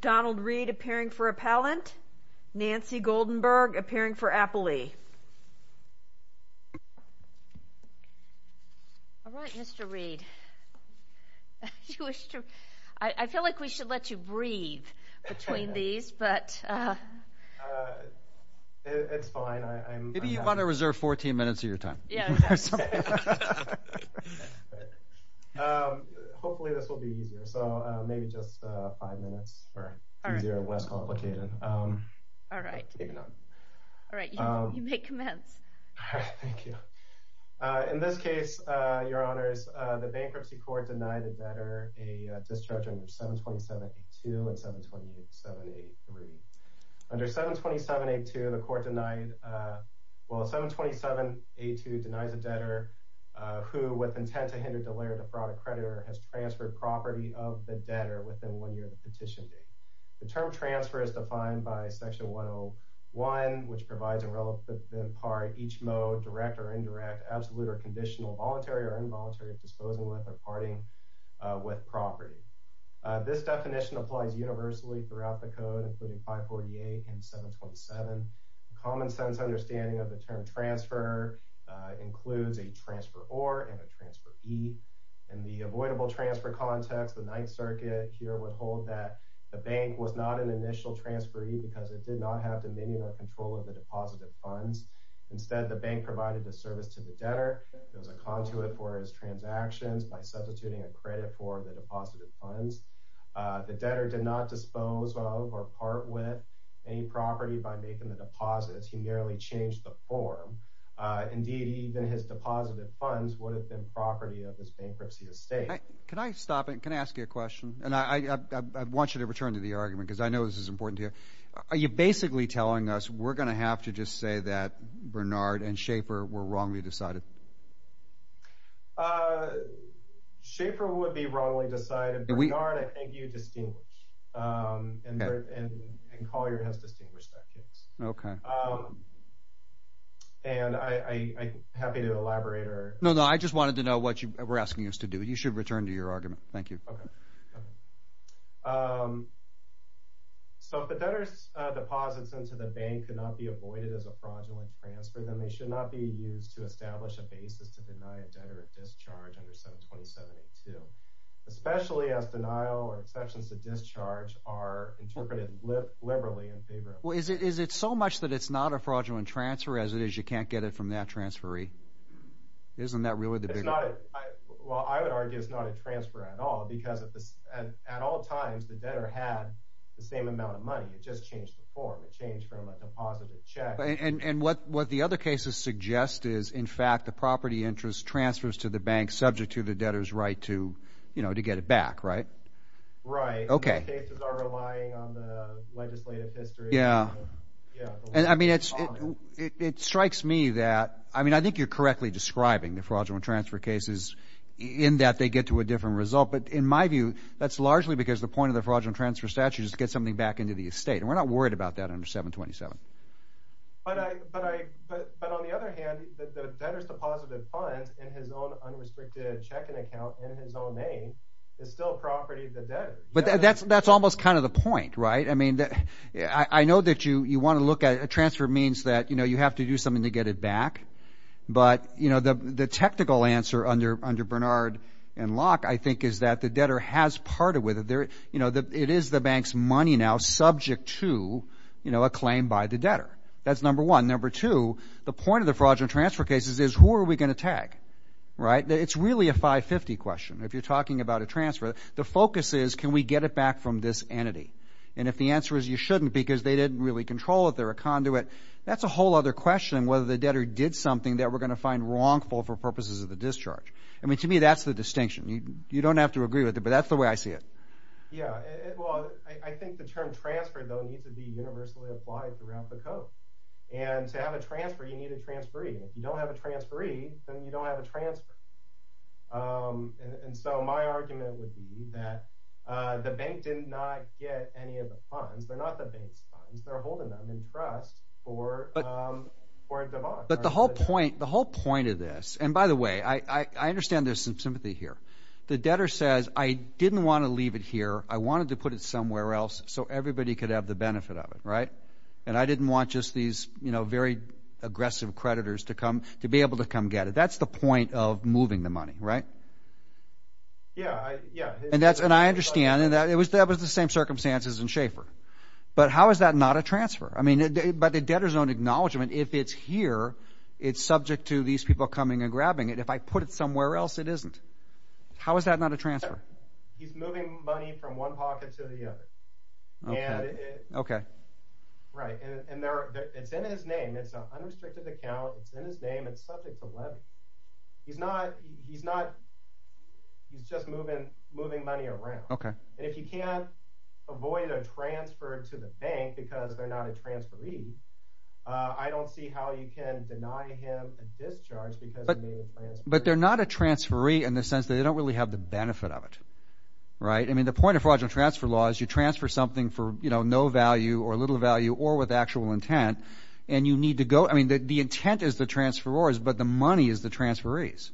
Donald Reed appearing for appellant, Nancy Goldenberg appearing for appellee. All right, Mr. Reed. I feel like we should let you breathe between these, but... It's fine. Maybe you want to reserve 14 minutes of your time. Yeah. Hopefully this will be easier, so maybe just five minutes. All right. All right, you may commence. In this case, Your Honors, the bankruptcy court denied a debtor a discharge under 727.82 and 727.83. Under 727.82, the court denied that, well, 727.82 denies a debtor who, with intent to hinder the layer of the fraud accreditor, has transferred property of the debtor within one year of the petition date. The term transfer is defined by Section 101, which provides a relative part, each mode, direct or indirect, absolute or conditional, voluntary or involuntary of disposing with or parting with property. This definition applies universally throughout the Code, including 548 and 727. A common-sense understanding of the term transfer includes a transferor and a transferee. In the avoidable transfer context, the Ninth Circuit here would hold that the bank was not an initial transferee because it did not have dominion or control of the deposited funds. Instead, the bank provided the service to the debtor. It was a conduit for his transactions by substituting a credit for the deposited funds. The debtor did not dispose of or part with any property by making the deposits. He merely changed the form. Indeed, even his deposited funds would have been property of his bankruptcy estate. Can I ask you a question? I want you to return to the argument because I know this is important here. Are you basically telling us we're going to have to just say that Bernard and Schaefer were wrongly decided? Schaefer would be wrongly decided. Bernard, I think you distinguish, and Collier has distinguished that case. Okay. I'm happy to elaborate. No, I just wanted to know what you were asking us to do. You should return to your argument. Thank you. If the debtor's deposits into the bank could not be avoided as a fraudulent transfer, then they should not be used to establish a basis to deny a debtor a discharge under 727-82, especially as denial and exceptions to discharge are interpreted liberally and favorably. Well, is it so much that it's not a fraudulent transfer as it is you can't get it from that transferee? Isn't that really the bigger... Well, I would argue it's not a transfer at all because at all times the debtor had the same amount of money. It just changed the form. It changed from a deposited check... And what the other cases suggest is, in fact, the property interest transfers to the bank to get it back, right? Right. Those cases are relying on the legislative history. It strikes me that... I mean, I think you're correctly describing the fraudulent transfer cases in that they get to a different result, but in my view, that's largely because the point of the fraudulent transfer statute is to get something back into the estate, and we're not worried about that under 727. But on the other hand, the debtor's deposited funds in his own restricted checking account in his own name is still property of the debtor. But that's almost kind of the point, right? I mean, I know that you want to look at... A transfer means that you have to do something to get it back, but the technical answer under Bernard and Locke, I think, is that the debtor has parted with it. It is the bank's money now subject to a claim by the debtor. That's number one. Number two, the point of the fraudulent transfer cases is who are we going to tag, right? It's really a 550 question. If you're talking about a transfer, the focus is can we get it back from this entity? And if the answer is you shouldn't because they didn't really control it, they're a conduit, that's a whole other question whether the debtor did something that we're going to find wrongful for purposes of the discharge. I mean, to me, that's the distinction. You don't have to agree with it, but that's the way I see it. Yeah, well, I think the term transfer, though, needs to be universally applied throughout the Code. And to have a transfer, you need a transferee. If you don't have a transferee, then you don't have a transfer. And so my argument would be that the bank did not get any of the funds. They're not the bank's funds. They're holding them in trust for a divorce. But the whole point of this, and by the way, I understand there's some sympathy here. The debtor says, I didn't want to leave it here. I wanted to put it somewhere else so everybody could have the benefit of it, right? And I didn't want just these very aggressive creditors to be able to come get it. That's the point of moving the money, right? And I understand, and that was the same circumstances in Schaefer. But how is that not a transfer? I mean, by the debtor's own acknowledgement, if it's here, it's subject to these people coming and grabbing it. If I put it somewhere else, it isn't. How is that not a transfer? He's moving money from one pocket to the other. And it's in his name. It's an unrestricted account. It's in his name. It's subject to levy. He's not, he's just moving money around. And if you can't avoid a transfer to the bank because they're not a transferee, I don't see how you can deny him a discharge because he made a transfer. But they're not a transferee in the sense that they don't really have the benefit of it, right? I mean, the point of fraudulent transfer law is you transfer something for no value or little value or with actual intent, and you need to go, I mean, the intent is the transferors, but the money is the transferees,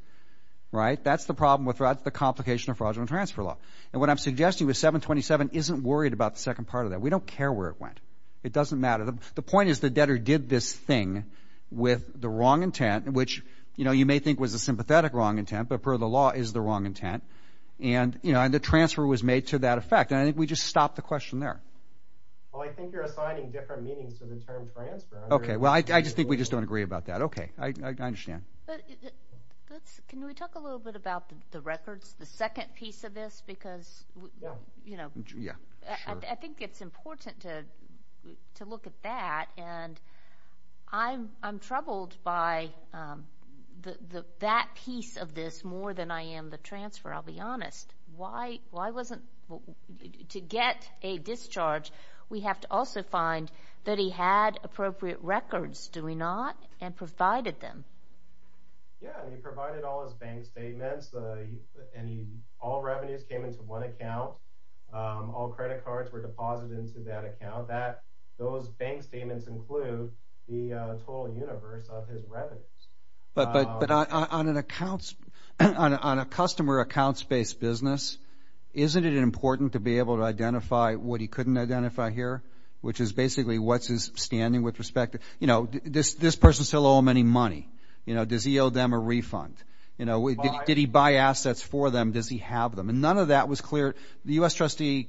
right? That's the problem with fraud, the complication of fraudulent transfer law. And what I'm suggesting with 727 isn't worried about the second part of that. We don't care where it went. It doesn't matter. The point is the debtor did this thing with the wrong intent, which you may think was a sympathetic wrong intent, but per the law is the wrong intent. And the transfer was made to that effect. And I think we just stop the question there. Well, I think you're assigning different meanings to the term transfer. Okay, well, I just think we just don't agree about that. Okay, I understand. Can we talk a little bit about the records, the second piece of this? Because, you know, I think it's important to look at that, and I'm troubled by that piece of the transfer, I'll be honest. To get a discharge, we have to also find that he had appropriate records, do we not? And provided them. Yeah, and he provided all his bank statements. All revenues came into one account. All credit cards were deposited into that account. Those bank statements include the total universe of his revenues. But on an accounts, on a customer accounts-based business, isn't it important to be able to identify what he couldn't identify here? Which is basically what's his standing with respect to, you know, this person still owe him any money? You know, does he owe them a refund? You know, did he buy assets for them? Does he have them? And none of that was clear. The U.S. trustee,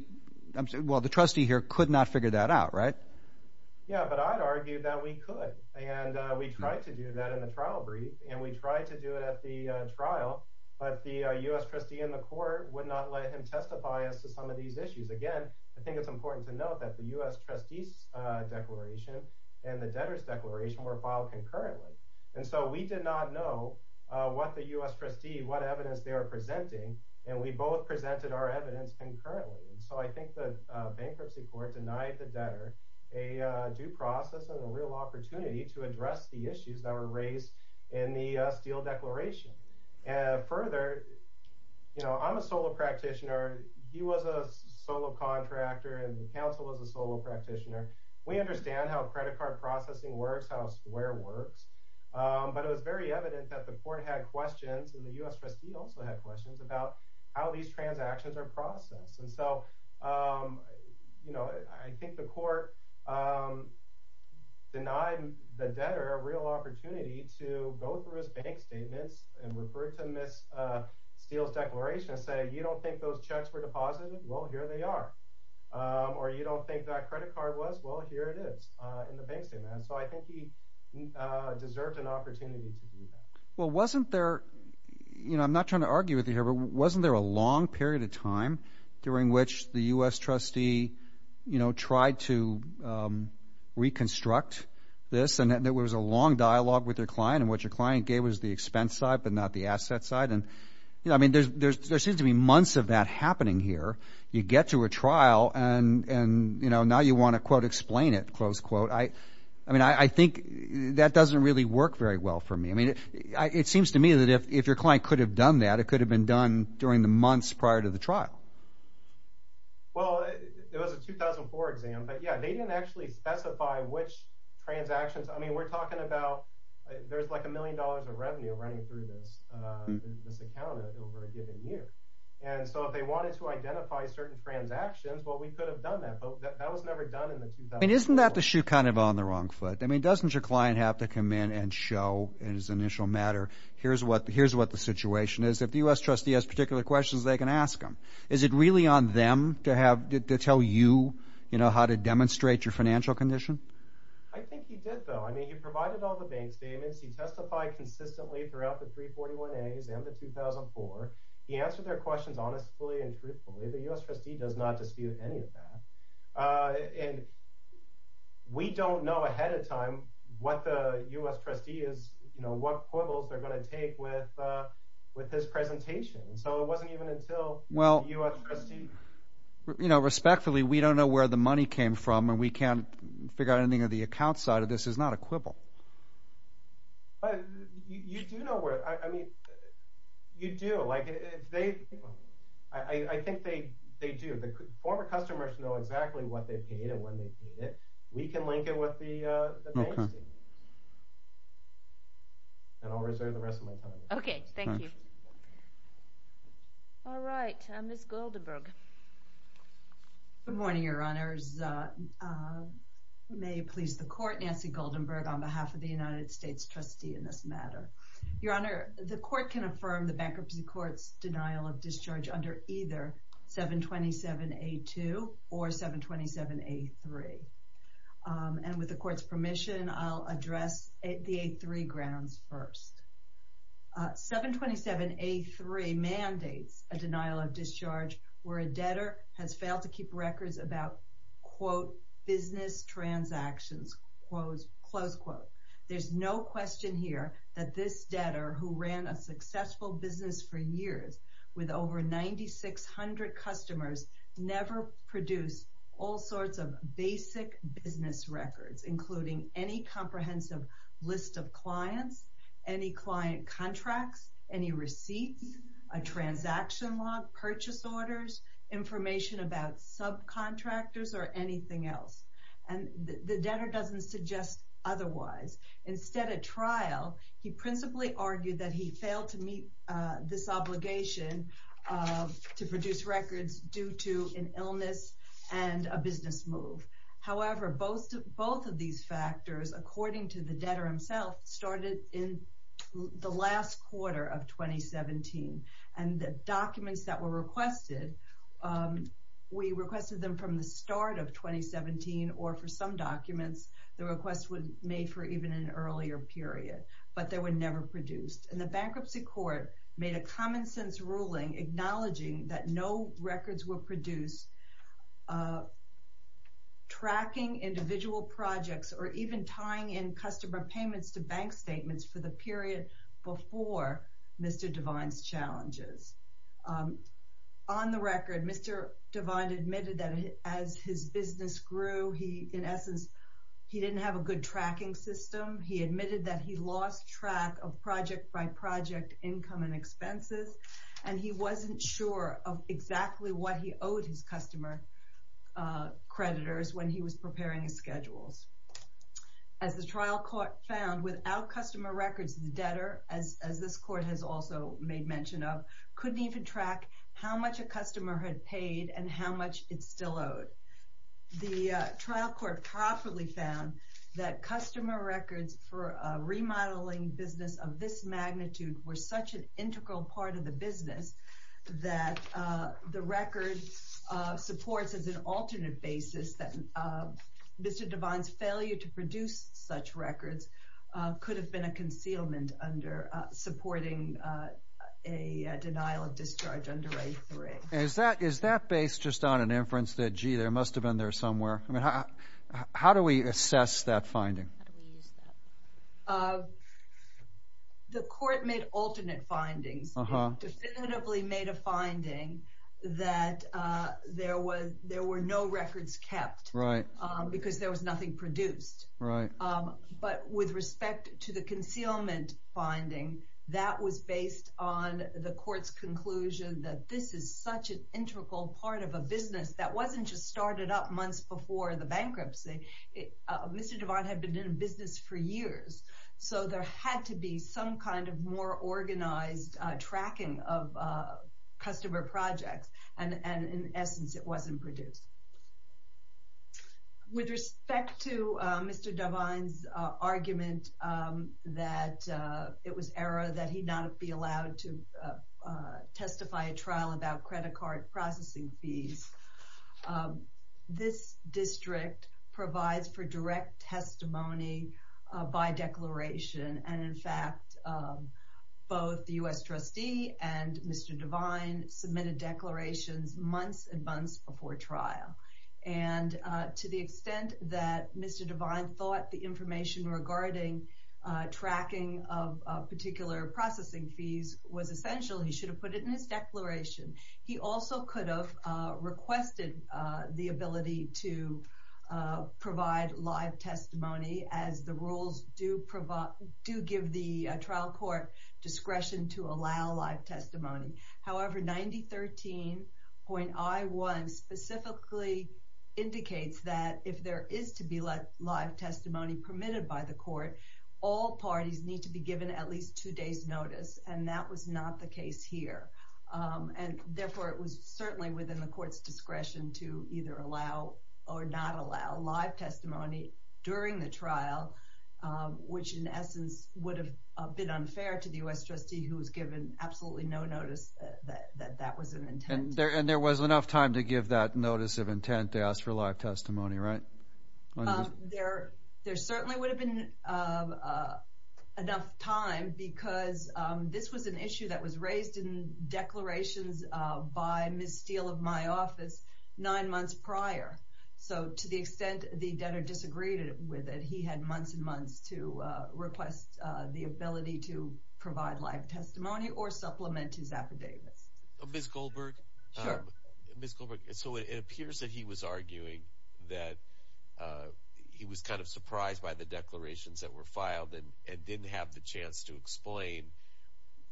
well, the trustee here could not figure that out, right? Yeah, but I'd argue that we could. And we tried to do that in the trial brief, and we tried to do it at the trial, but the U.S. trustee in the court would not let him testify as to some of these issues. Again, I think it's important to note that the U.S. trustee's declaration and the debtor's declaration were filed concurrently. And so we did not know what the U.S. trustee, what evidence they were presenting, and we both presented our evidence concurrently. And so I think the bankruptcy court denied the debtor a due process and a real opportunity to address the issues that were raised in the Steele declaration. Further, you know, I'm a solo practitioner. He was a solo contractor and the counsel was a solo practitioner. We understand how credit card processing works, how a square works, but it was very evident that the court had questions, and the U.S. trustee also had questions, about how these transactions are processed. And so, you know, I think the court denied the debtor a real opportunity to go through his bank statements and refer to Ms. Steele's declaration and say, you don't think those checks were deposited? Well, here they are. Or you don't think that credit card was? Well, here it is in the bank statement. So I think he deserved an opportunity to do that. Well, wasn't there, you know, I'm not trying to argue with you here, but wasn't there a long period of time during which the U.S. trustee, you know, tried to reconstruct this, and there was a long dialogue with your client, and what your client gave was the expense side, but not the asset side? And, you know, I mean, there seems to be months of that happening here. You get to a trial and, you know, now you want to, quote, explain it, close quote. I mean, I think that doesn't really work very well for me. I mean, it seems to me that if your client could have done that, it could have been done during the months prior to the trial. Well, it was a 2004 exam, but yeah, they didn't actually specify which transactions, I mean, we're talking about, there's like a million dollars of revenue running through this account over a given year. And so if they wanted to identify certain transactions, well, we could have done that, but that was never done in the 2004. I mean, isn't that the shoe kind of on the wrong foot? I mean, doesn't your client have to come in and show in his initial matter, here's what the situation is. If the U.S. trustee has particular questions, they can ask them. Is it really on them to tell you, you know, how to demonstrate your financial condition? I think he did, though. I mean, he provided all the bank statements. He testified consistently throughout the 341As and the 2004. He answered their questions honestly and truthfully. The U.S. trustee does not dispute any of that. We don't know ahead of time what the U.S. trustee is going to take with this presentation. So it wasn't even until the U.S. trustee... You know, respectfully, we don't know where the money came from and we can't figure out anything on the account side of this. It's not a quibble. You do know where, I mean, you do. I think they do. Former customers know exactly what they paid and when they paid it. We can link it with the bank statement. And I'll reserve the rest of my time. Okay, thank you. All right, Ms. Goldenberg. Good morning, Your Honors. May it please the Court, Nancy Goldenberg on behalf of the United States trustee in this matter. Your Honor, the Court can affirm the bankruptcy court's denial of discharge under either 727A2 or 727A3. And with the Court's permission, I'll address the A3 grounds first. 727A3 mandates a denial of discharge where a debtor has failed to keep records about, quote, business transactions, close quote. There's no question here that this debtor who ran a successful business for years with over 9,600 customers never produced all business records, including any comprehensive list of clients, any client contracts, any receipts, a transaction log, purchase orders, information about subcontractors, or anything else. And the debtor doesn't suggest otherwise. Instead, at trial, he principally argued that he failed to meet this obligation to produce records due to an illness and a business move. However, both of these factors, according to the debtor himself, started in the last quarter of 2017. And the documents that were requested, we requested them from the start of 2017 or for some documents, the request was made for even an earlier period. But they were never produced. And the bankruptcy court made a common-sense ruling acknowledging that no records were tracking individual projects or even tying in customer payments to bank statements for the period before Mr. Devine's challenges. On the record, Mr. Devine admitted that as his business grew, he, in essence, he didn't have a good tracking system. He admitted that he lost track of project-by-project income and expenses, and he wasn't sure of exactly what he credited when he was preparing his schedules. As the trial court found, without customer records, the debtor, as this court has also made mention of, couldn't even track how much a customer had paid and how much it still owed. The trial court properly found that customer records for a remodeling business of this magnitude were such an integral part of the business that the record supports as an alternate basis that Mr. Devine's failure to produce such records could have been a concealment under supporting a denial of discharge under A3. Is that based just on an inference that, gee, there must have been there somewhere? How do we assess that finding? The court made alternate findings. It definitively made a conclusion that there were no records kept because there was nothing produced. But with respect to the concealment finding, that was based on the court's conclusion that this is such an integral part of a business that wasn't just started up months before the bankruptcy. Mr. Devine had been in business for years, so there had to be some kind of more organized tracking of where in essence it wasn't produced. With respect to Mr. Devine's argument that it was error that he'd not be allowed to testify at trial about credit card processing fees, this district provides for direct testimony by declaration, and in fact both the U.S. trustee and Mr. Devine submitted declarations months and months before trial. And to the extent that Mr. Devine thought the information regarding tracking of particular processing fees was essential, he should have put it in his declaration. He also could have requested the ability to provide live testimony, as the rules do give the trial court discretion to allow live testimony. However, 9013.I1 specifically indicates that if there is to be live testimony permitted by the court, all parties need to be given at least two days' notice, and that was not the case here. And therefore it was certainly within the court's discretion to either allow or not allow live testimony during the trial, which in essence would have been unfair to the U.S. trustee who was given absolutely no notice that that was an intent. And there was enough time to give that notice of intent to ask for live testimony, right? There certainly would have been enough time, because this was an issue that was raised in declarations by Ms. Steele of my office nine months prior. So to the extent the debtor disagreed with it, he had months and months to request the ability to provide live testimony or supplement his affidavits. Ms. Goldberg, so it appears that he was arguing that he was kind of surprised by the declarations that were filed and didn't have the chance to explain.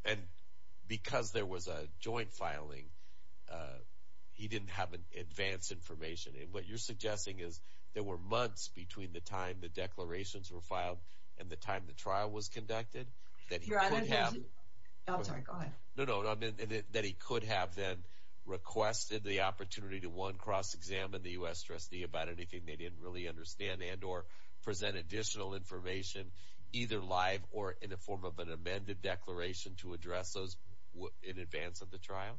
And because there was a joint filing, he didn't have advance information. And what you're suggesting is there were months between the time the declarations were filed and the time the trial was conducted that he could have requested the opportunity to one, cross-examine the U.S. trustee about anything they didn't really understand and or present additional information either live or in the form of an amended declaration to address those in advance of the trial?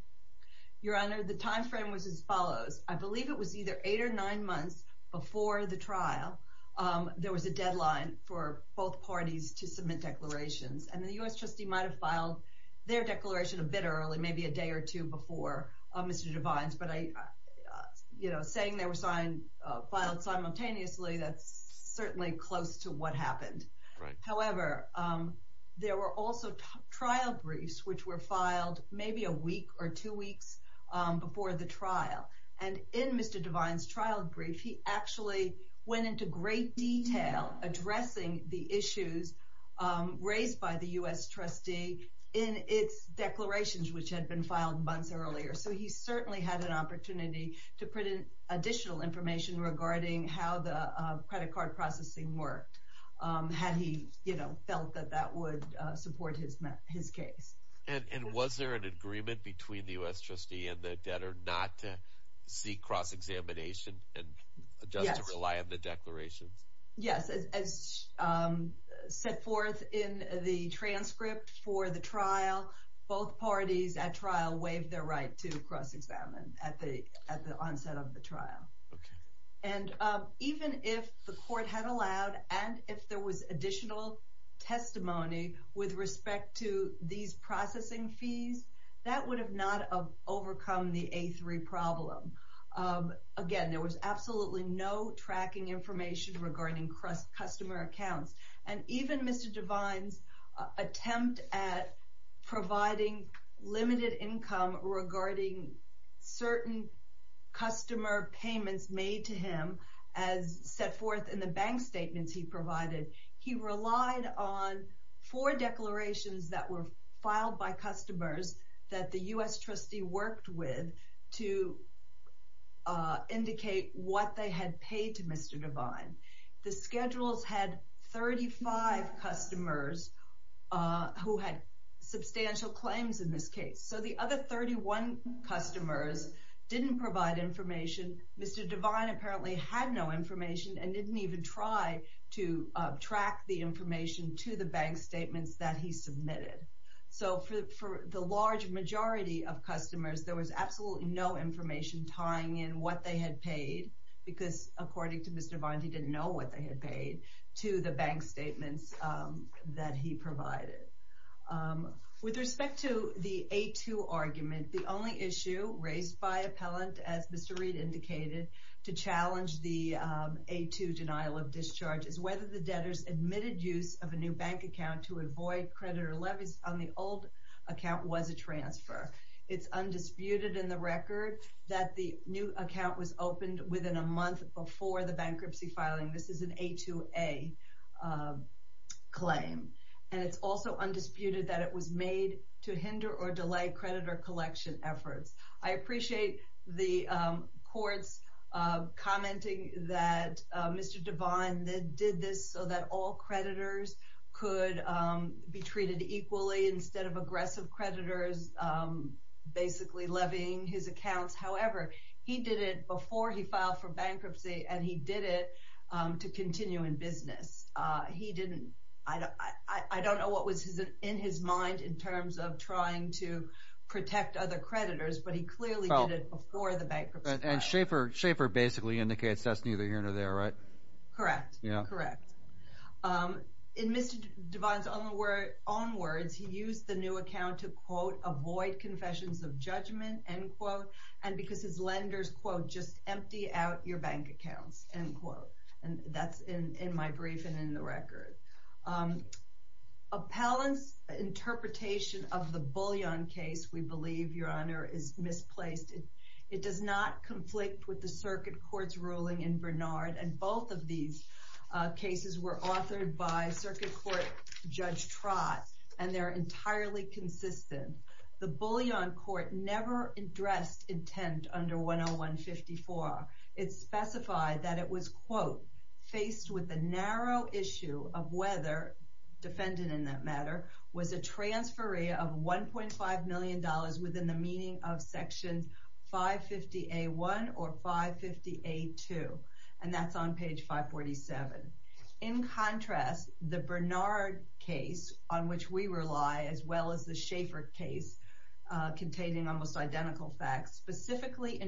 Your Honor, the time frame was as follows. I believe it was either eight or nine months before the trial. There was a deadline for both parties to submit declarations and the U.S. trustee might have filed their declaration a bit early, maybe a day or two before Mr. Devine's. But saying they were filed simultaneously, that's certainly close to what happened. However, there were also trial briefs which were filed maybe a week or two weeks before the trial. And in Mr. Devine's trial brief, he actually went into great detail addressing the issues raised by the U.S. trustee in its declarations which had been filed months earlier. So he certainly had an opportunity to put in additional information regarding how the credit card processing worked, had he felt that that would support his case. And was there an agreement between the U.S. trustee and the debtor not to seek cross-examination and just to rely on the declarations? Yes. As set forth in the transcript for the trial, both parties at trial waived their right to cross-examine at the onset of the trial. And even if the court had allowed and if there was additional testimony with respect to these processing fees, that would have not overcome the A3 problem. Again, there was absolutely no tracking information regarding customer accounts. And even Mr. Devine's attempt at providing limited income regarding certain customer payments made to him as set forth in the bank statements he provided, he relied on four declarations that were filed by customers that the U.S. trustee worked with to indicate what they had paid to Mr. Devine. The schedules had 35 customers who had substantial claims in this case. So the other 31 customers didn't provide information. Mr. Devine apparently had no information and didn't even try to track the information to the bank statements that he submitted. So for the large majority of customers, there was absolutely no information tying in what they had paid because according to Mr. Devine, he didn't know what they had paid to the bank statements that he provided. With respect to the A2 argument, the only issue raised by appellant, as Mr. Reed indicated, to challenge the A2 denial of discharge is whether the debtors admitted use of a new levy on the old account was a transfer. It's undisputed in the record that the new account was opened within a month before the bankruptcy filing. This is an A2A claim. And it's also undisputed that it was made to hinder or delay creditor collection efforts. I appreciate the courts commenting that Mr. Devine did this so that all creditors could be treated equally instead of aggressive creditors basically levying his accounts. However, he did it before he filed for bankruptcy, and he did it to continue in business. I don't know what was in his mind in terms of trying to protect other creditors, but he clearly did it before the bankruptcy filed. Schaefer basically indicates that's neither here nor there, right? Correct. In Mr. Devine's own words, he used the new account to, quote, avoid confessions of judgment, end quote, and because his lenders, quote, just empty out your bank accounts, end quote. And that's in my brief and in the record. Appellant's interpretation of the Bullion case, we believe, Your Honor, is misplaced. It does not conflict with the circuit court's ruling in Bernard, and both of these cases were authored by circuit court Judge Trott, and they're entirely consistent. The Bullion court never addressed intent under 101-54. It specified that it was, quote, faced with the narrow issue of whether, defendant in that matter, was a transferee of $1.5 million within the meaning of Section 550A1 or 550A2, and that's on page 547. In contrast, the Bernard case, on which we rely, as well as the Schaefer case containing almost identical facts, specifically,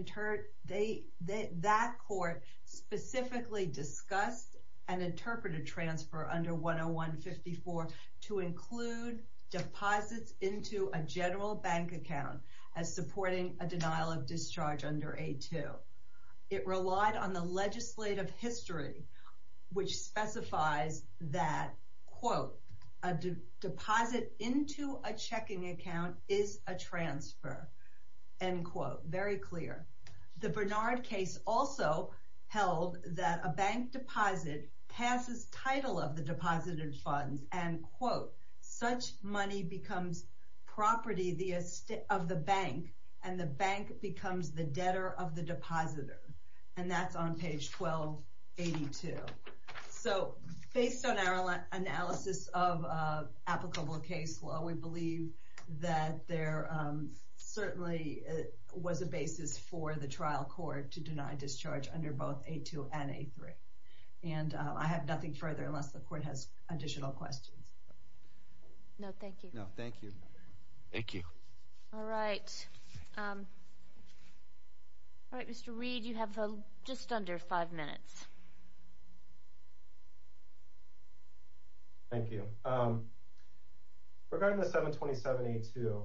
that court specifically discussed and interpreted transfer under 101-54 to include deposits into a general bank account as supporting a denial of discharge under A2. It relied on the legislative history, which specifies that, quote, a deposit into a checking account is a transfer, end quote. Very clear. The Bernard case also held that a bank deposit passes title of the deposited funds, and, quote, such money becomes property of the bank, and the bank becomes the debtor of the depositor, and that's on page 1282. So, based on our analysis of applicable case law, we believe that there certainly was a basis for the trial court to deny discharge under both A2 and A3, and I have nothing further unless the court has additional questions. No, thank you. All right. All right, Mr. Reed, you have just under five minutes. Thank you. Regarding the 727-82,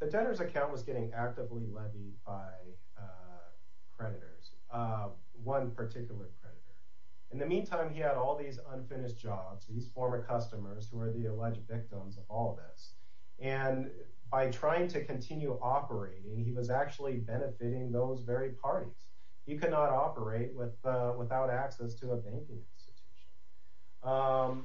the debtor's account was getting actively led by creditors, one particular creditor. In the meantime, he had all these unfinished jobs, these former customers who are the alleged victims of all of this, and by trying to continue operating, he was actually benefiting those very parties. He could not operate without access to a banking institution.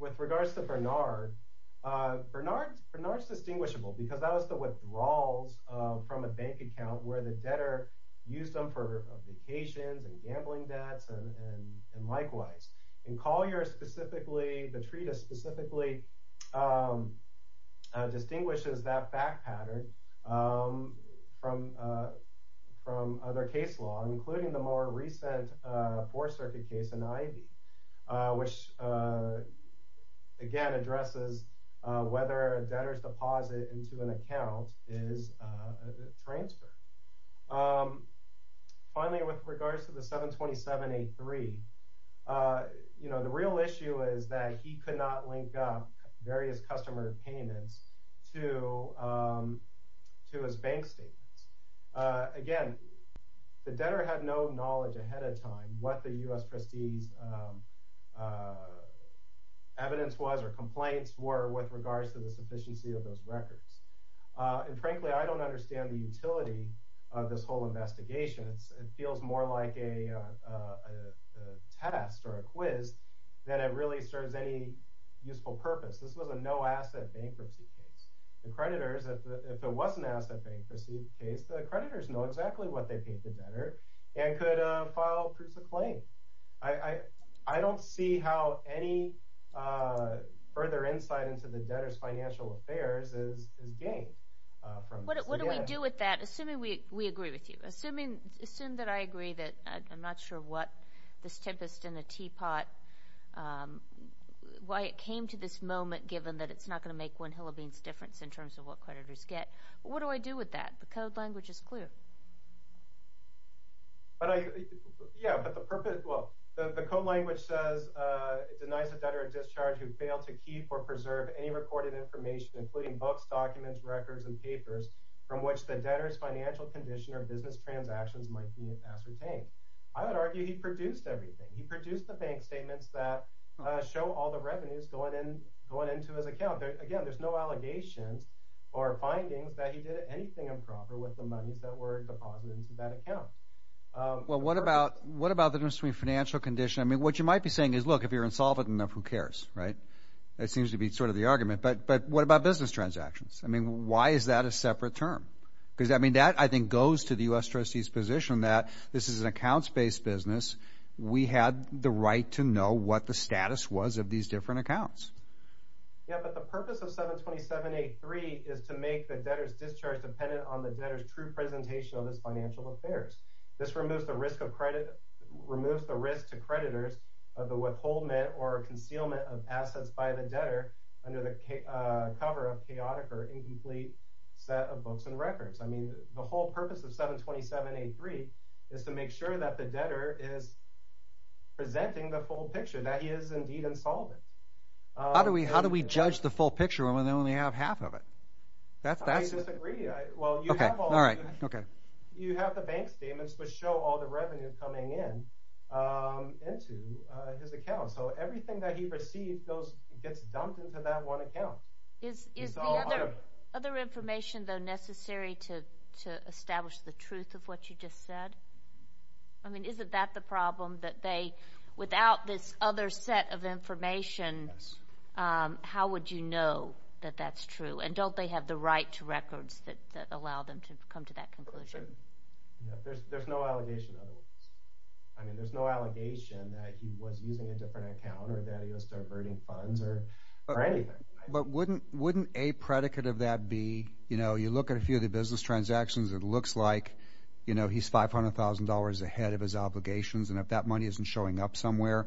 With regards to Bernard, Bernard's distinguishable because that was the withdrawals from a bank account where the debtor used them for vacations and gambling debts and likewise. In the treatise specifically, it distinguishes that fact pattern from other case law, including the more recent Fourth Circuit case in Ivey, which again addresses whether a debtor's deposit into an account is a transfer. Finally, with regards to the 727-83, the real issue is that he could not link various customer payments to his bank statements. Again, the debtor had no knowledge ahead of time what the U.S. Prestige evidence was or complaints were with regards to the sufficiency of those records. Frankly, I don't understand the utility of this whole investigation. It feels more like a test or a quiz than it really serves any useful purpose. This was a no-asset bankruptcy case. If it was an asset bankruptcy case, the creditors know exactly what they paid the debtor and could file proofs of claim. I don't see how any further insight into the debtor's financial affairs is gained. What do we do with that, assuming we agree with you? Assume that I agree that I'm not sure what this tempest in the teapot, why it came to this moment, given that it's not going to make one hell of a difference in terms of what creditors get. What do I do with that? The code language is clear. The code language says it denies the debtor a discharge who failed to keep or preserve any recorded information, including books, documents, records, and papers, from which the debtor's financial condition or business transactions might be ascertained. I would argue he produced everything. He produced the bank statements that show all the revenues going into his account. Again, there's no allegations or findings that he did anything improper with the monies that were deposited into that account. What about the difference between financial condition? What you might be saying is, look, if you're insolvent enough, who cares? That seems to be the argument. But what about business transactions? Why is that a separate term? That, I think, goes to the U.S. Trustee's position that this is an accounts-based business. We had the right to know what the status was of these different accounts. The purpose of 727.83 is to make the debtor's discharge dependent on the debtor's true presentation of his financial affairs. This removes the risk to creditors of the withholdment or concealment of assets by the debtor under the cover of a chaotic or incomplete set of books and records. The whole purpose of 727.83 is to make sure that the debtor is presenting the full picture, that he is indeed insolvent. I disagree. You have the bank statements which show all the revenues coming in into his account. So everything that he received gets dumped into that one account. Is the other information, though, necessary to establish the truth of what you just said? I mean, isn't that the problem? Without this other set of information, how would you know that that's true? And don't they have the right to records that allow them to come to that conclusion? There's no allegation otherwise. I mean, there's no allegation that he was using a different account or that he was diverting funds or anything. But wouldn't a predicate of that be, you know, you look at a few of the business transactions, it looks like, you know, he's $500,000 ahead of his obligations, and if that money isn't showing up somewhere,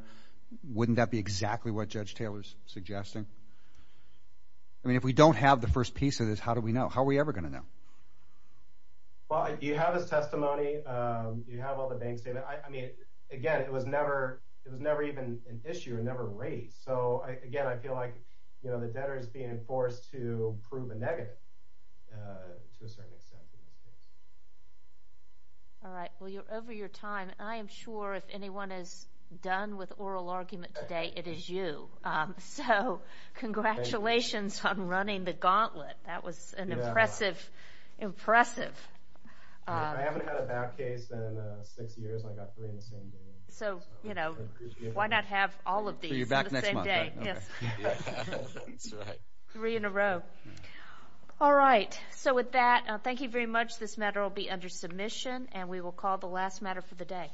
wouldn't that be exactly what Judge Taylor's suggesting? I mean, if we don't have the first piece of this, how do we know? How are we ever going to know? Well, you have his testimony. You have all the bank statements. I mean, again, it was never even an issue. It was never raised. So, again, I feel like the debtor is being forced to prove a negative to a certain extent. All right. Well, you're over your time. I am sure if anyone is done with oral argument today, it is you. So, congratulations on running the gauntlet. That was an impressive... So, you know, why not have all of these on the same day? All right. So, with that, thank you very much. This matter will be under submission, and we will call the last matter for the day.